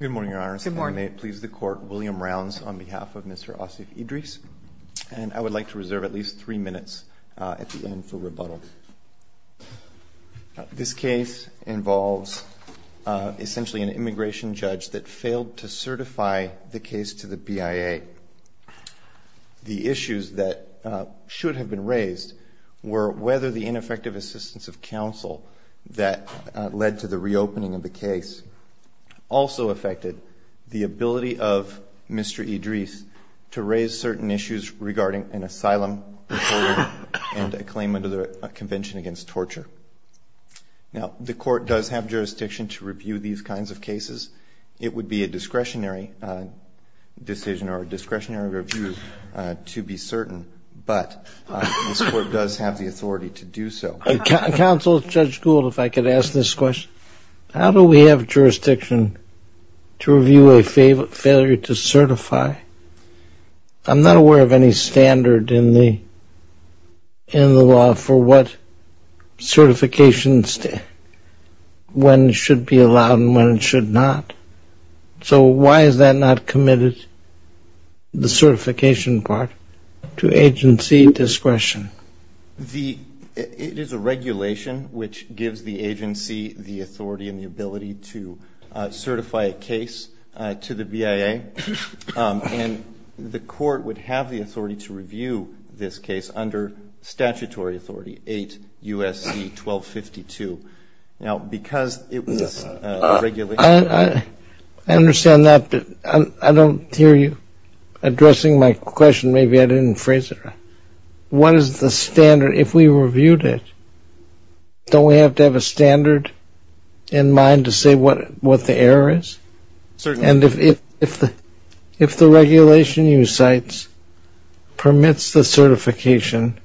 Good morning, Your Honors. Good morning. May it please the Court, William Rounds on behalf of Mr. Asif Idrees, and I would like to reserve at least three minutes at the end for rebuttal. This case involves essentially an immigration judge that failed to certify the case to the BIA. The issues that should have been raised were whether the ineffective assistance of counsel that led to the reopening of the case also affected the ability of Mr. Idrees to raise certain issues regarding an asylum recorder and a claim under the Convention Against Torture. Now, the Court does have jurisdiction to review these kinds of cases. It would be a discretionary decision or a discretionary review to be certain, but this Court does have the authority to do so. Counsel, Judge Gould, if I could ask this question. How do we have jurisdiction to review a failure to certify? I'm not aware of any standard in the law for what certifications, when it should be allowed and when it should not. So why is that not committed, the certification part, to agency discretion? It is a regulation which gives the agency the authority and the ability to certify a case to the BIA, and the Court would have the authority to review this case under statutory authority 8 U.S.C. 1252. Now, because it was a regulation. I understand that, but I don't hear you addressing my question. Maybe I didn't phrase it right. What is the standard if we reviewed it? Don't we have to have a standard in mind to say what the error is? Certainly. And if the regulation you cite permits the certification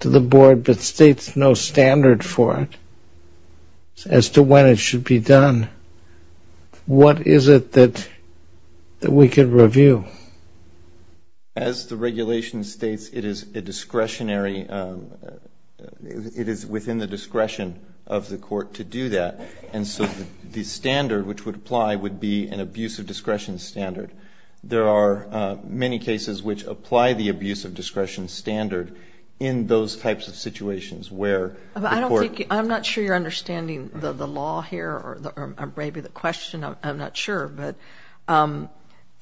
to the Board but states no standard for it as to when it should be done, what is it that we could review? As the regulation states, it is a discretionary, it is within the discretion of the Court to do that, and so the standard which would apply would be an abuse of discretion standard. There are many cases which apply the abuse of discretion standard in those types of situations where the Court. I'm not sure you're understanding the law here, or maybe the question, I'm not sure, but an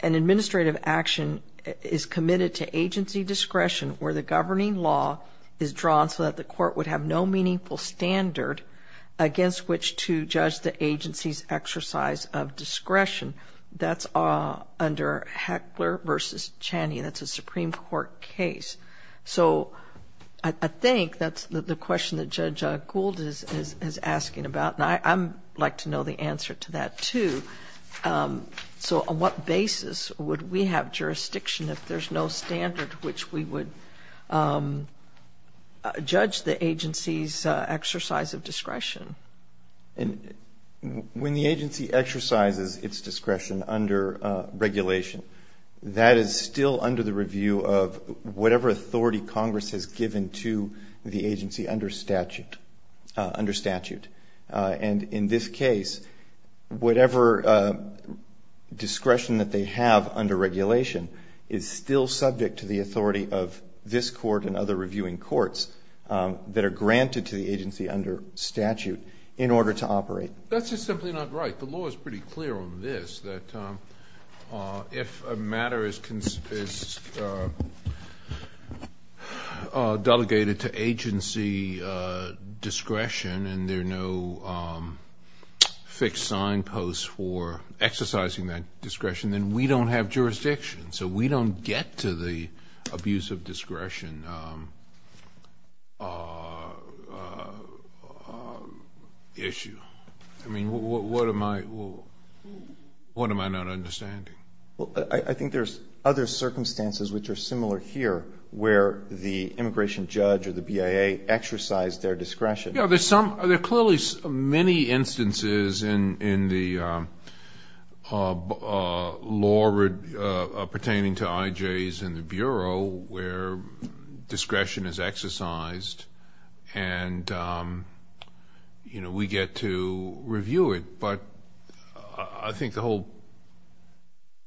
administrative action is committed to agency discretion where the governing law is drawn so that the Court would have no meaningful standard against which to judge the agency's exercise of discretion. That's under Heckler v. Chaney, and that's a Supreme Court case. So I think that's the question that Judge Gould is asking about, and I'd like to know the answer to that, too. So on what basis would we have jurisdiction if there's no standard which we would judge the agency's exercise of discretion? When the agency exercises its discretion under regulation, that is still under the review of whatever authority Congress has given to the agency under statute. And in this case, whatever discretion that they have under regulation is still subject to the authority of this Court and other reviewing courts that are granted to the agency under statute in order to operate. That's just simply not right. The law is pretty clear on this, that if a matter is delegated to agency discretion and there are no fixed signposts for exercising that discretion, then we don't have jurisdiction, so we don't get to the abuse of discretion issue. I mean, what am I not understanding? I think there's other circumstances which are similar here where the immigration judge or the BIA exercise their discretion. Yeah, there are clearly many instances in the law pertaining to IJs in the Bureau where discretion is exercised and, you know, we get to review it. But I think the whole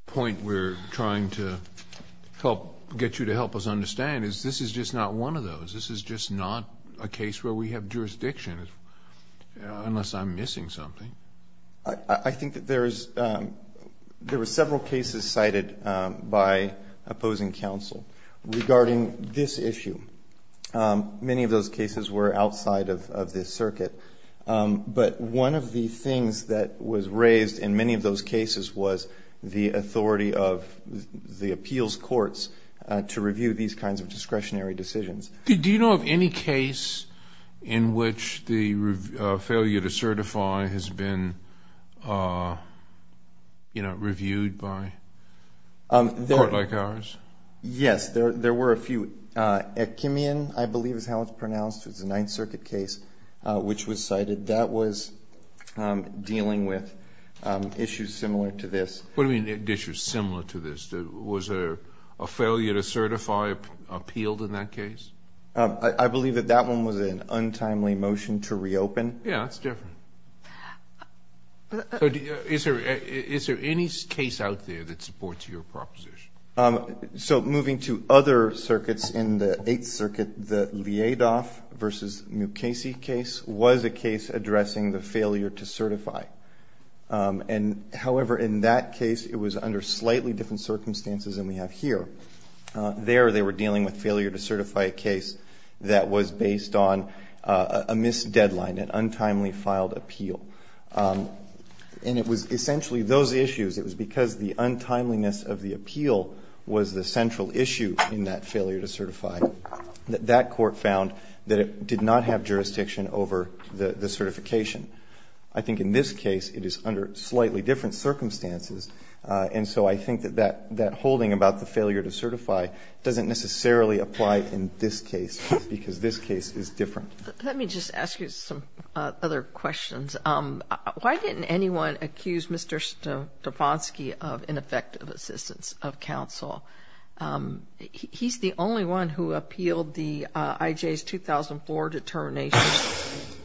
point we're trying to get you to help us understand is this is just not one of those. This is just not a case where we have jurisdiction, unless I'm missing something. I think that there is several cases cited by opposing counsel regarding this issue. Many of those cases were outside of this circuit. But one of the things that was raised in many of those cases was the authority of the appeals courts to review these kinds of discretionary decisions. Do you know of any case in which the failure to certify has been, you know, reviewed by a court like ours? Yes. There were a few. Ekimian, I believe is how it's pronounced. It's a Ninth Circuit case which was cited. That was dealing with issues similar to this. What do you mean issues similar to this? Was there a failure to certify appealed in that case? I believe that that one was an untimely motion to reopen. Yes, it's different. Is there any case out there that supports your proposition? So moving to other circuits in the Eighth Circuit, the Leadoff v. Mukasey case was a case addressing the failure to certify. And, however, in that case it was under slightly different circumstances than we have here. There they were dealing with failure to certify a case that was based on a missed deadline, an untimely filed appeal. And it was essentially those issues. It was because the untimeliness of the appeal was the central issue in that failure to certify that that court found that it did not have jurisdiction over the certification. I think in this case it is under slightly different circumstances. And so I think that that holding about the failure to certify doesn't necessarily apply in this case because this case is different. Let me just ask you some other questions. Why didn't anyone accuse Mr. Stefanski of ineffective Assistance of Counsel? He's the only one who appealed the IJ's 2004 determination.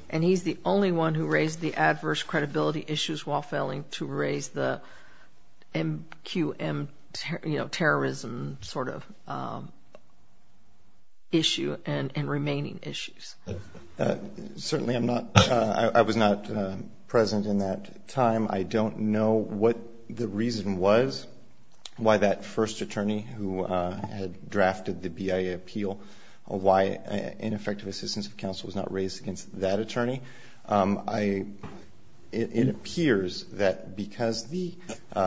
And he's the only one who raised the adverse credibility issues while failing to raise the MQM, you know, terrorism sort of issue and remaining issues. Certainly I'm not, I was not present in that time. I don't know what the reason was, why that first attorney who had drafted the BIA appeal, why ineffective Assistance of Counsel was not raised against that attorney. It appears that because the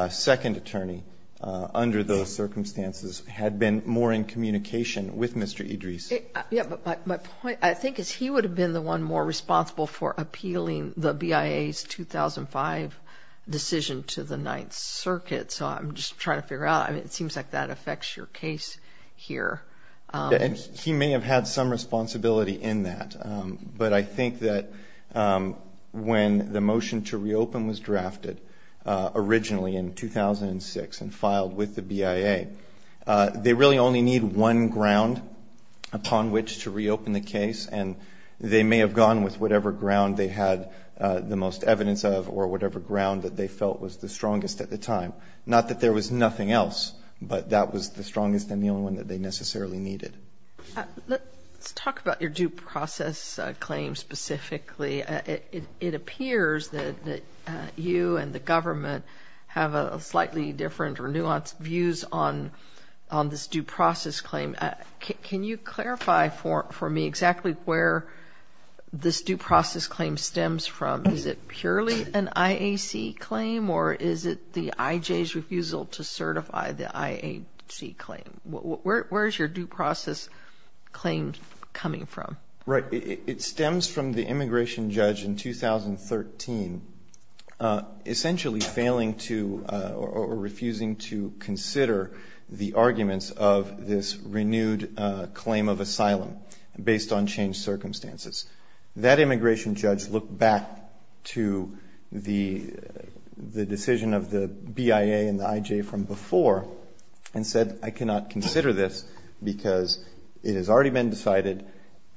second attorney under those circumstances had been more in communication with Mr. Idris. Yeah, but my point I think is he would have been the one more responsible for appealing the BIA's 2005 decision to the Ninth Circuit. So I'm just trying to figure out, I mean, it seems like that affects your case here. He may have had some responsibility in that. But I think that when the motion to reopen was drafted originally in 2006 and filed with the BIA, they really only need one ground upon which to reopen the case. And they may have gone with whatever ground they had the most evidence of or whatever ground that they felt was the strongest at the time. Not that there was nothing else, but that was the strongest and the only one that they necessarily needed. Let's talk about your due process claim specifically. It appears that you and the government have slightly different or nuanced views on this due process claim. Can you clarify for me exactly where this due process claim stems from? Is it purely an IAC claim or is it the IJ's refusal to certify the IAC claim? Where is your due process claim coming from? Right. It stems from the immigration judge in 2013 essentially failing to or refusing to consider the arguments of this renewed claim of asylum based on changed circumstances. That immigration judge looked back to the decision of the BIA and the IJ from before and said I cannot consider this because it has already been decided,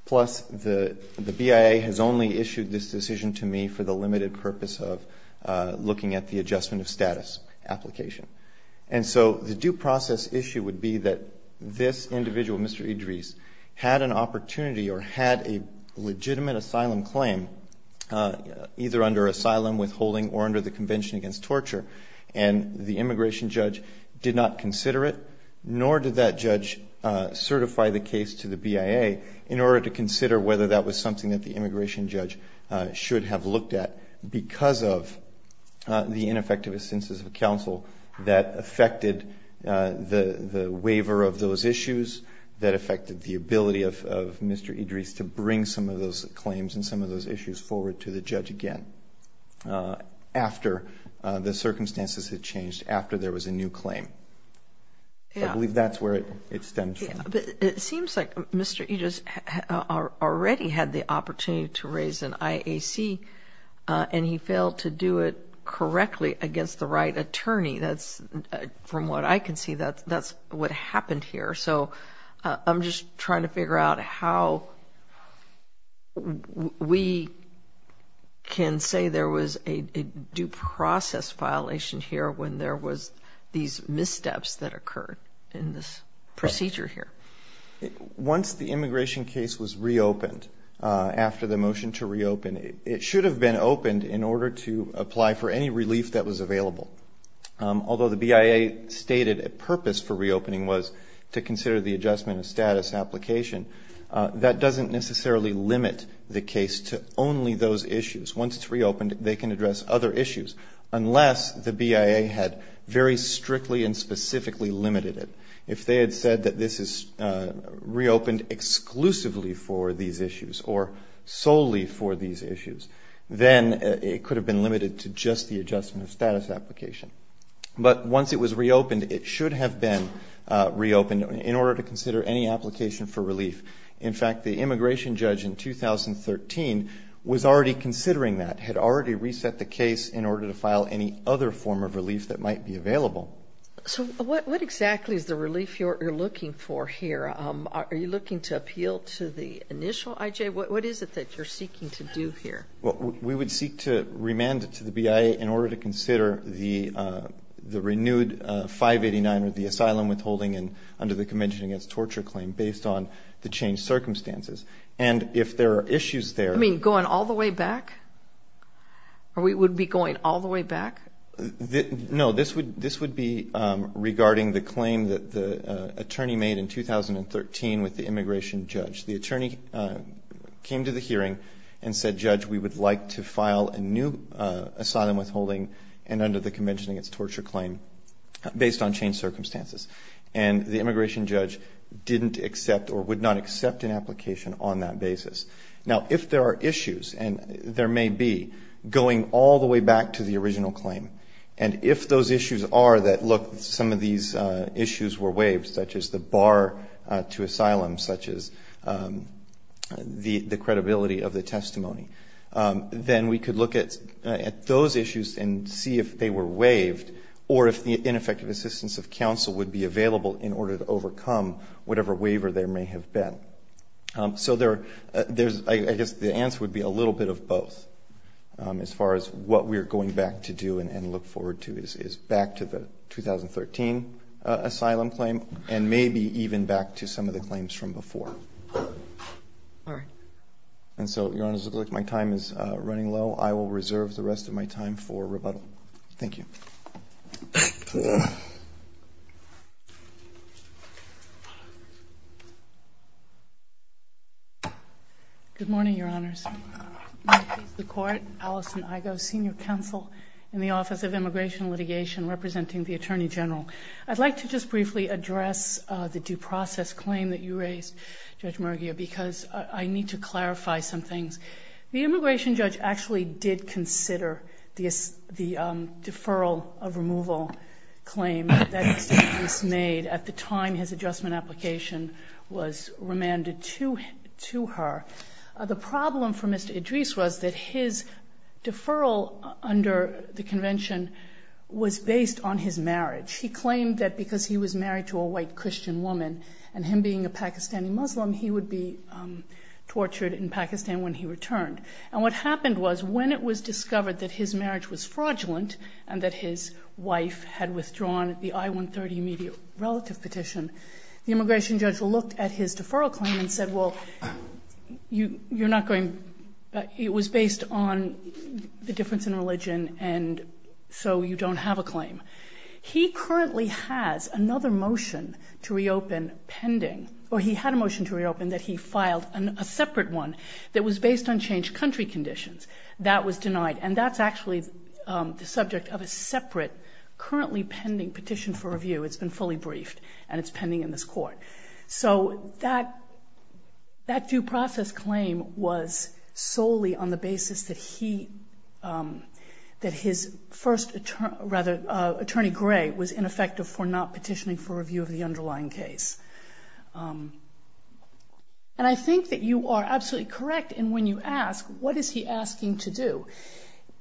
plus the BIA has only issued this decision to me for the limited purpose of looking at the adjustment of status application. And so the due process issue would be that this individual, Mr. Idris, had an opportunity or had a legitimate asylum claim, either under asylum withholding or under the Convention Against Torture, and the immigration judge did not consider it, nor did that judge certify the case to the BIA, in order to consider whether that was something that the immigration judge should have looked at because of the ineffective assistance of counsel that affected the waiver of those issues, that affected the ability of Mr. Idris to bring some of those claims and some of those issues forward to the judge again after the circumstances had changed, after there was a new claim. I believe that's where it stems from. But it seems like Mr. Idris already had the opportunity to raise an IAC and he failed to do it correctly against the right attorney. From what I can see, that's what happened here. So I'm just trying to figure out how we can say there was a due process violation here when there was these missteps that occurred in this procedure here. Once the immigration case was reopened, after the motion to reopen, it should have been opened in order to apply for any relief that was available. Although the BIA stated a purpose for reopening was to consider the adjustment of status application, that doesn't necessarily limit the case to only those issues. Once it's reopened, they can address other issues unless the BIA had very strictly and specifically limited it. If they had said that this is reopened exclusively for these issues or solely for these issues, then it could have been limited to just the adjustment of status application. But once it was reopened, it should have been reopened in order to consider any application for relief. In fact, the immigration judge in 2013 was already considering that, had already reset the case in order to file any other form of relief that might be available. So what exactly is the relief you're looking for here? Are you looking to appeal to the initial IJ? What is it that you're seeking to do here? Well, we would seek to remand it to the BIA in order to consider the renewed 589 or the asylum withholding under the Convention Against Torture Claim based on the changed circumstances. And if there are issues there... You mean going all the way back? We would be going all the way back? No, this would be regarding the claim that the attorney made in 2013 with the immigration judge. The attorney came to the hearing and said, Judge, we would like to file a new asylum withholding and under the Convention Against Torture Claim based on changed circumstances. And the immigration judge didn't accept or would not accept an application on that basis. Now if there are issues, and there may be, going all the way back to the original claim, and if those issues are that, look, some of these issues were waived, such as the bar to asylum, such as the credibility of the testimony, then we could look at those issues and see if they were waived or if the ineffective assistance of counsel would be available in order to overcome whatever waiver there may have been. So I guess the answer would be a little bit of both as far as what we are going back to do and look forward to is back to the 2013 asylum claim and maybe even back to some of the claims from before. All right. And so, Your Honors, it looks like my time is running low. I will reserve the rest of my time for rebuttal. Thank you. Good morning, Your Honors. The Court, Alison Igoe, Senior Counsel in the Office of Immigration and Litigation, representing the Attorney General. I'd like to just briefly address the due process claim that you raised, Judge Murguia, because I need to clarify some things. The immigration judge actually did consider the deferral of removal claim that Mr. Idrees made at the time his adjustment application was remanded to her. The problem for Mr. Idrees was that his deferral under the convention was based on his marriage. He claimed that because he was married to a white Christian woman and him being a Pakistani Muslim, he would be tortured in Pakistan when he returned. And what happened was when it was discovered that his marriage was fraudulent and that his wife had withdrawn the I-130 immediate relative petition, the immigration judge looked at his deferral claim and said, well, it was based on the difference in religion and so you don't have a claim. He currently has another motion to reopen pending, or he had a motion to reopen that he filed a separate one that was based on changed country conditions. That was denied and that's actually the subject of a separate currently pending petition for review. It's been fully briefed and it's pending in this Court. So that due process claim was solely on the basis that his first attorney, Gray, was ineffective for not petitioning for review of the underlying case. And I think that you are absolutely correct in when you ask, what is he asking to do?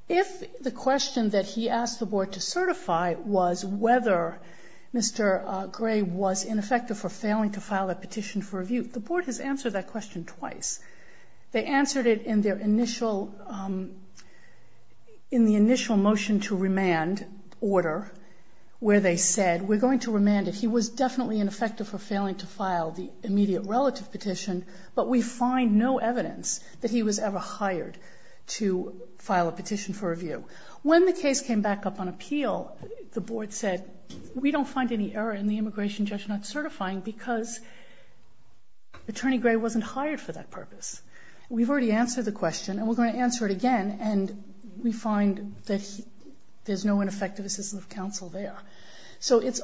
If the question that he asked the Board to certify was whether Mr. Gray was ineffective for failing to file that petition for review, the Board has answered that question twice. They answered it in their initial motion to remand order where they said, we're going to remand it. He was definitely ineffective for failing to file the immediate relative petition, but we find no evidence that he was ever hired to file a petition for review. When the case came back up on appeal, the Board said, we don't find any error in the immigration judge not certifying because attorney Gray wasn't hired for that purpose. We've already answered the question and we're going to answer it again and we find that there's no ineffective assistance of counsel there. So it's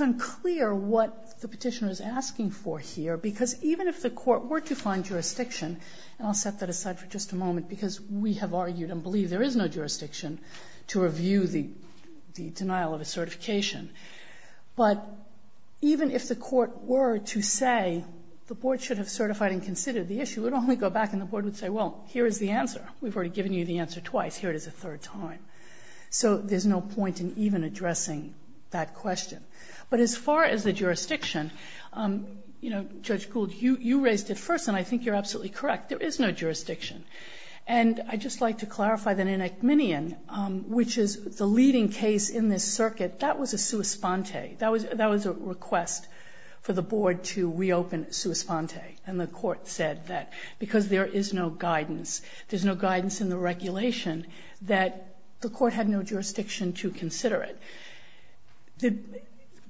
unclear what the petitioner is asking for here because even if the Court were to find jurisdiction, and I'll set that aside for just a moment because we have argued and believe there is no jurisdiction to review the denial of a certification. But even if the Court were to say the Board should have certified and considered the issue, it would only go back and the Board would say, well, here is the answer. We've already given you the answer twice. Here it is a third time. So there's no point in even addressing that question. But as far as the jurisdiction, you know, Judge Gould, you raised it first, and I think you're absolutely correct. There is no jurisdiction. And I'd just like to clarify that in Ekmanian, which is the leading case in this circuit, that was a sua sponte. That was a request for the Board to reopen sua sponte. And the Court said that because there is no guidance, there's no guidance in the regulation, that the Court had no jurisdiction to consider it.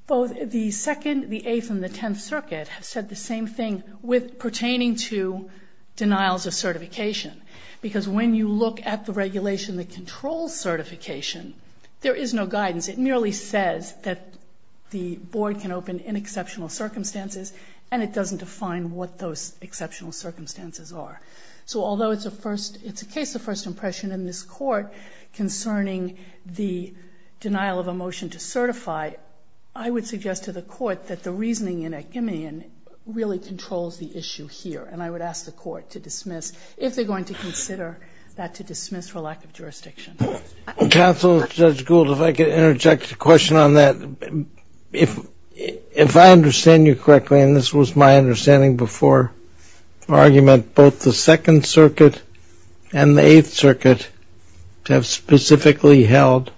Both the Second, the Eighth, and the Tenth Circuit have said the same thing pertaining to denials of certification. Because when you look at the regulation that controls certification, there is no guidance. It merely says that the Board can open in exceptional circumstances, and it doesn't define what those exceptional circumstances are. So although it's a case of first impression in this Court concerning the denial of a motion to certify, I would suggest to the Court that the reasoning in Ekmanian really controls the issue here. And I would ask the Court to dismiss, if they're going to consider that to dismiss for lack of jurisdiction. Counsel, Judge Gould, if I could interject a question on that. If I understand you correctly, and this was my understanding before argument, both the Second Circuit and the Eighth Circuit have specifically held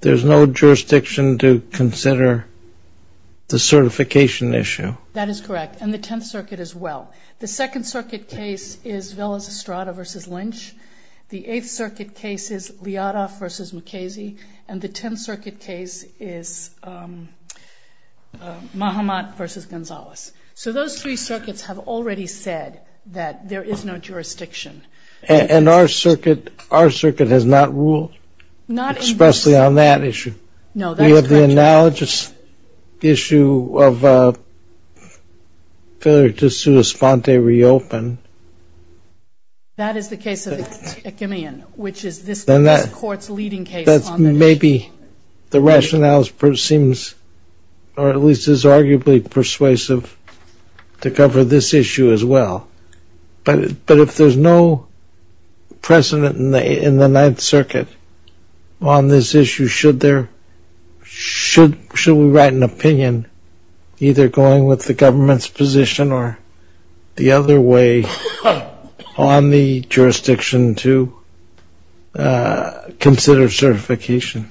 there's no jurisdiction to consider the certification issue. That is correct, and the Tenth Circuit as well. The Second Circuit case is Villas-Estrada v. Lynch. The Eighth Circuit case is Liada v. McKaysey. And the Tenth Circuit case is Mahamat v. Gonzalez. So those three circuits have already said that there is no jurisdiction. And our circuit has not ruled? Not in this. Especially on that issue. No, that's correct. We have the analogous issue of failure to sui sponte reopen. That is the case of Ekmanian, which is this Court's leading case on that issue. That's maybe the rationale seems, or at least is arguably persuasive to cover this issue as well. But if there's no precedent in the Ninth Circuit on this issue, should we write an opinion either going with the government's position or the other way on the jurisdiction to consider certification?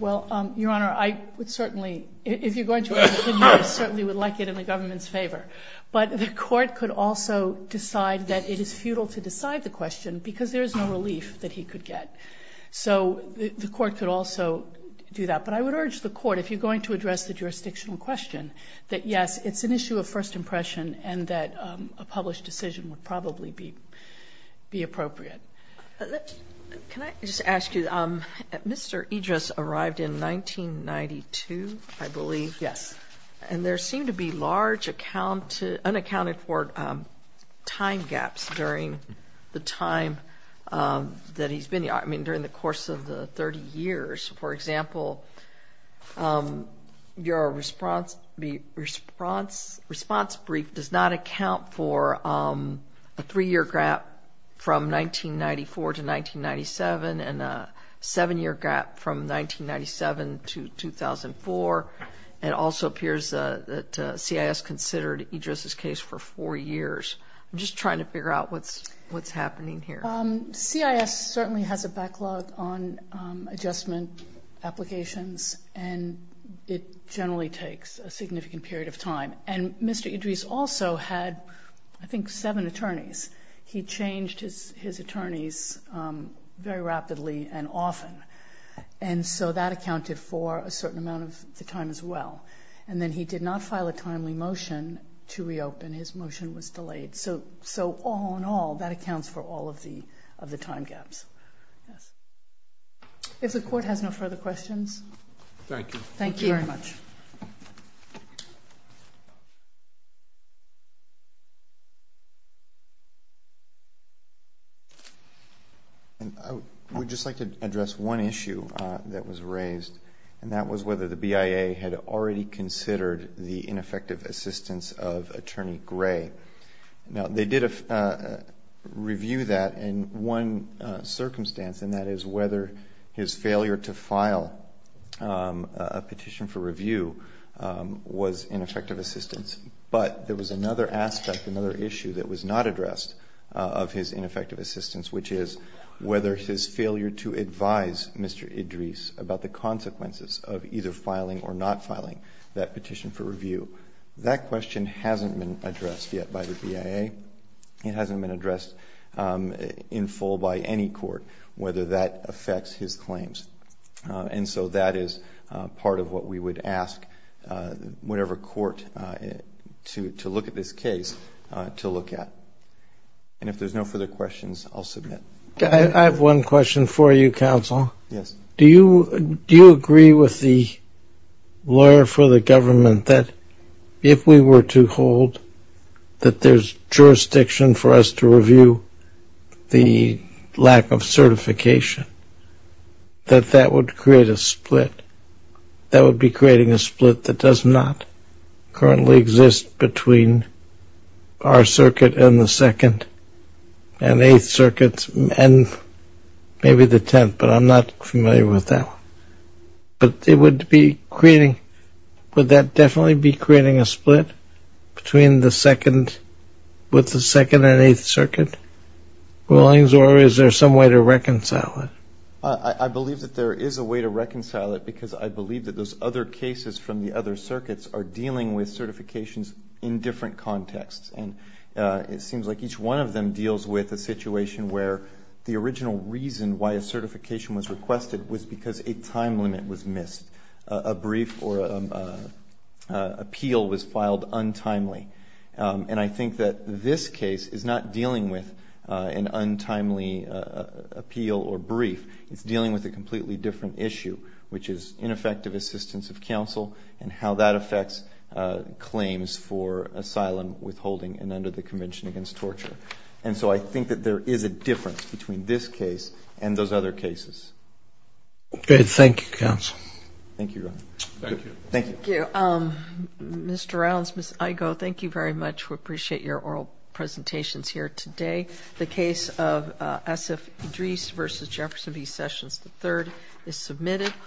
Well, Your Honor, I would certainly, if you're going to write an opinion, I certainly would like it in the government's favor. But the Court could also decide that it is futile to decide the question because there is no relief that he could get. So the Court could also do that. But I would urge the Court, if you're going to address the jurisdictional question, that, yes, it's an issue of first impression and that a published decision would probably be appropriate. Can I just ask you, Mr. Idris arrived in 1992, I believe? Yes. And there seemed to be large unaccounted for time gaps during the time that he's been here, I mean during the course of the 30 years. For example, your response brief does not account for a three-year gap from 1994 to 1997 and a seven-year gap from 1997 to 2004. It also appears that CIS considered Idris's case for four years. I'm just trying to figure out what's happening here. CIS certainly has a backlog on adjustment applications, and it generally takes a significant period of time. And Mr. Idris also had, I think, seven attorneys. He changed his attorneys very rapidly and often, and so that accounted for a certain amount of the time as well. And then he did not file a timely motion to reopen. His motion was delayed. So all in all, that accounts for all of the time gaps. If the Court has no further questions. Thank you. Thank you very much. I would just like to address one issue that was raised, and that was whether the BIA had already considered the ineffective assistance of Attorney Gray. Now, they did review that in one circumstance, and that is whether his failure to file a petition for review was ineffective assistance. But there was another aspect, another issue that was not addressed of his ineffective assistance, which is whether his failure to advise Mr. Idris about the consequences of either filing or not filing that petition for review. That question hasn't been addressed yet by the BIA. It hasn't been addressed in full by any court, whether that affects his claims. And so that is part of what we would ask whatever court to look at this case to look at. And if there's no further questions, I'll submit. I have one question for you, Counsel. Yes. Do you agree with the lawyer for the government that if we were to hold that there's jurisdiction for us to review the lack of certification, that that would create a split? That would be creating a split that does not currently exist between our circuit and the Second and Eighth Circuits, and maybe the Tenth, but I'm not familiar with that. But it would be creating – would that definitely be creating a split between the Second – I believe that there is a way to reconcile it because I believe that those other cases from the other circuits are dealing with certifications in different contexts. And it seems like each one of them deals with a situation where the original reason why a certification was requested was because a time limit was missed. A brief or an appeal was filed untimely. And I think that this case is not dealing with an untimely appeal or brief. It's dealing with a completely different issue, which is ineffective assistance of counsel and how that affects claims for asylum withholding and under the Convention Against Torture. And so I think that there is a difference between this case and those other cases. Good. Thank you, Counsel. Thank you, Your Honor. Thank you. Thank you. Mr. Rounds, Ms. Igo, thank you very much. We appreciate your oral presentations here today. The case of Asif Idrees v. Jefferson v. Sessions III is submitted.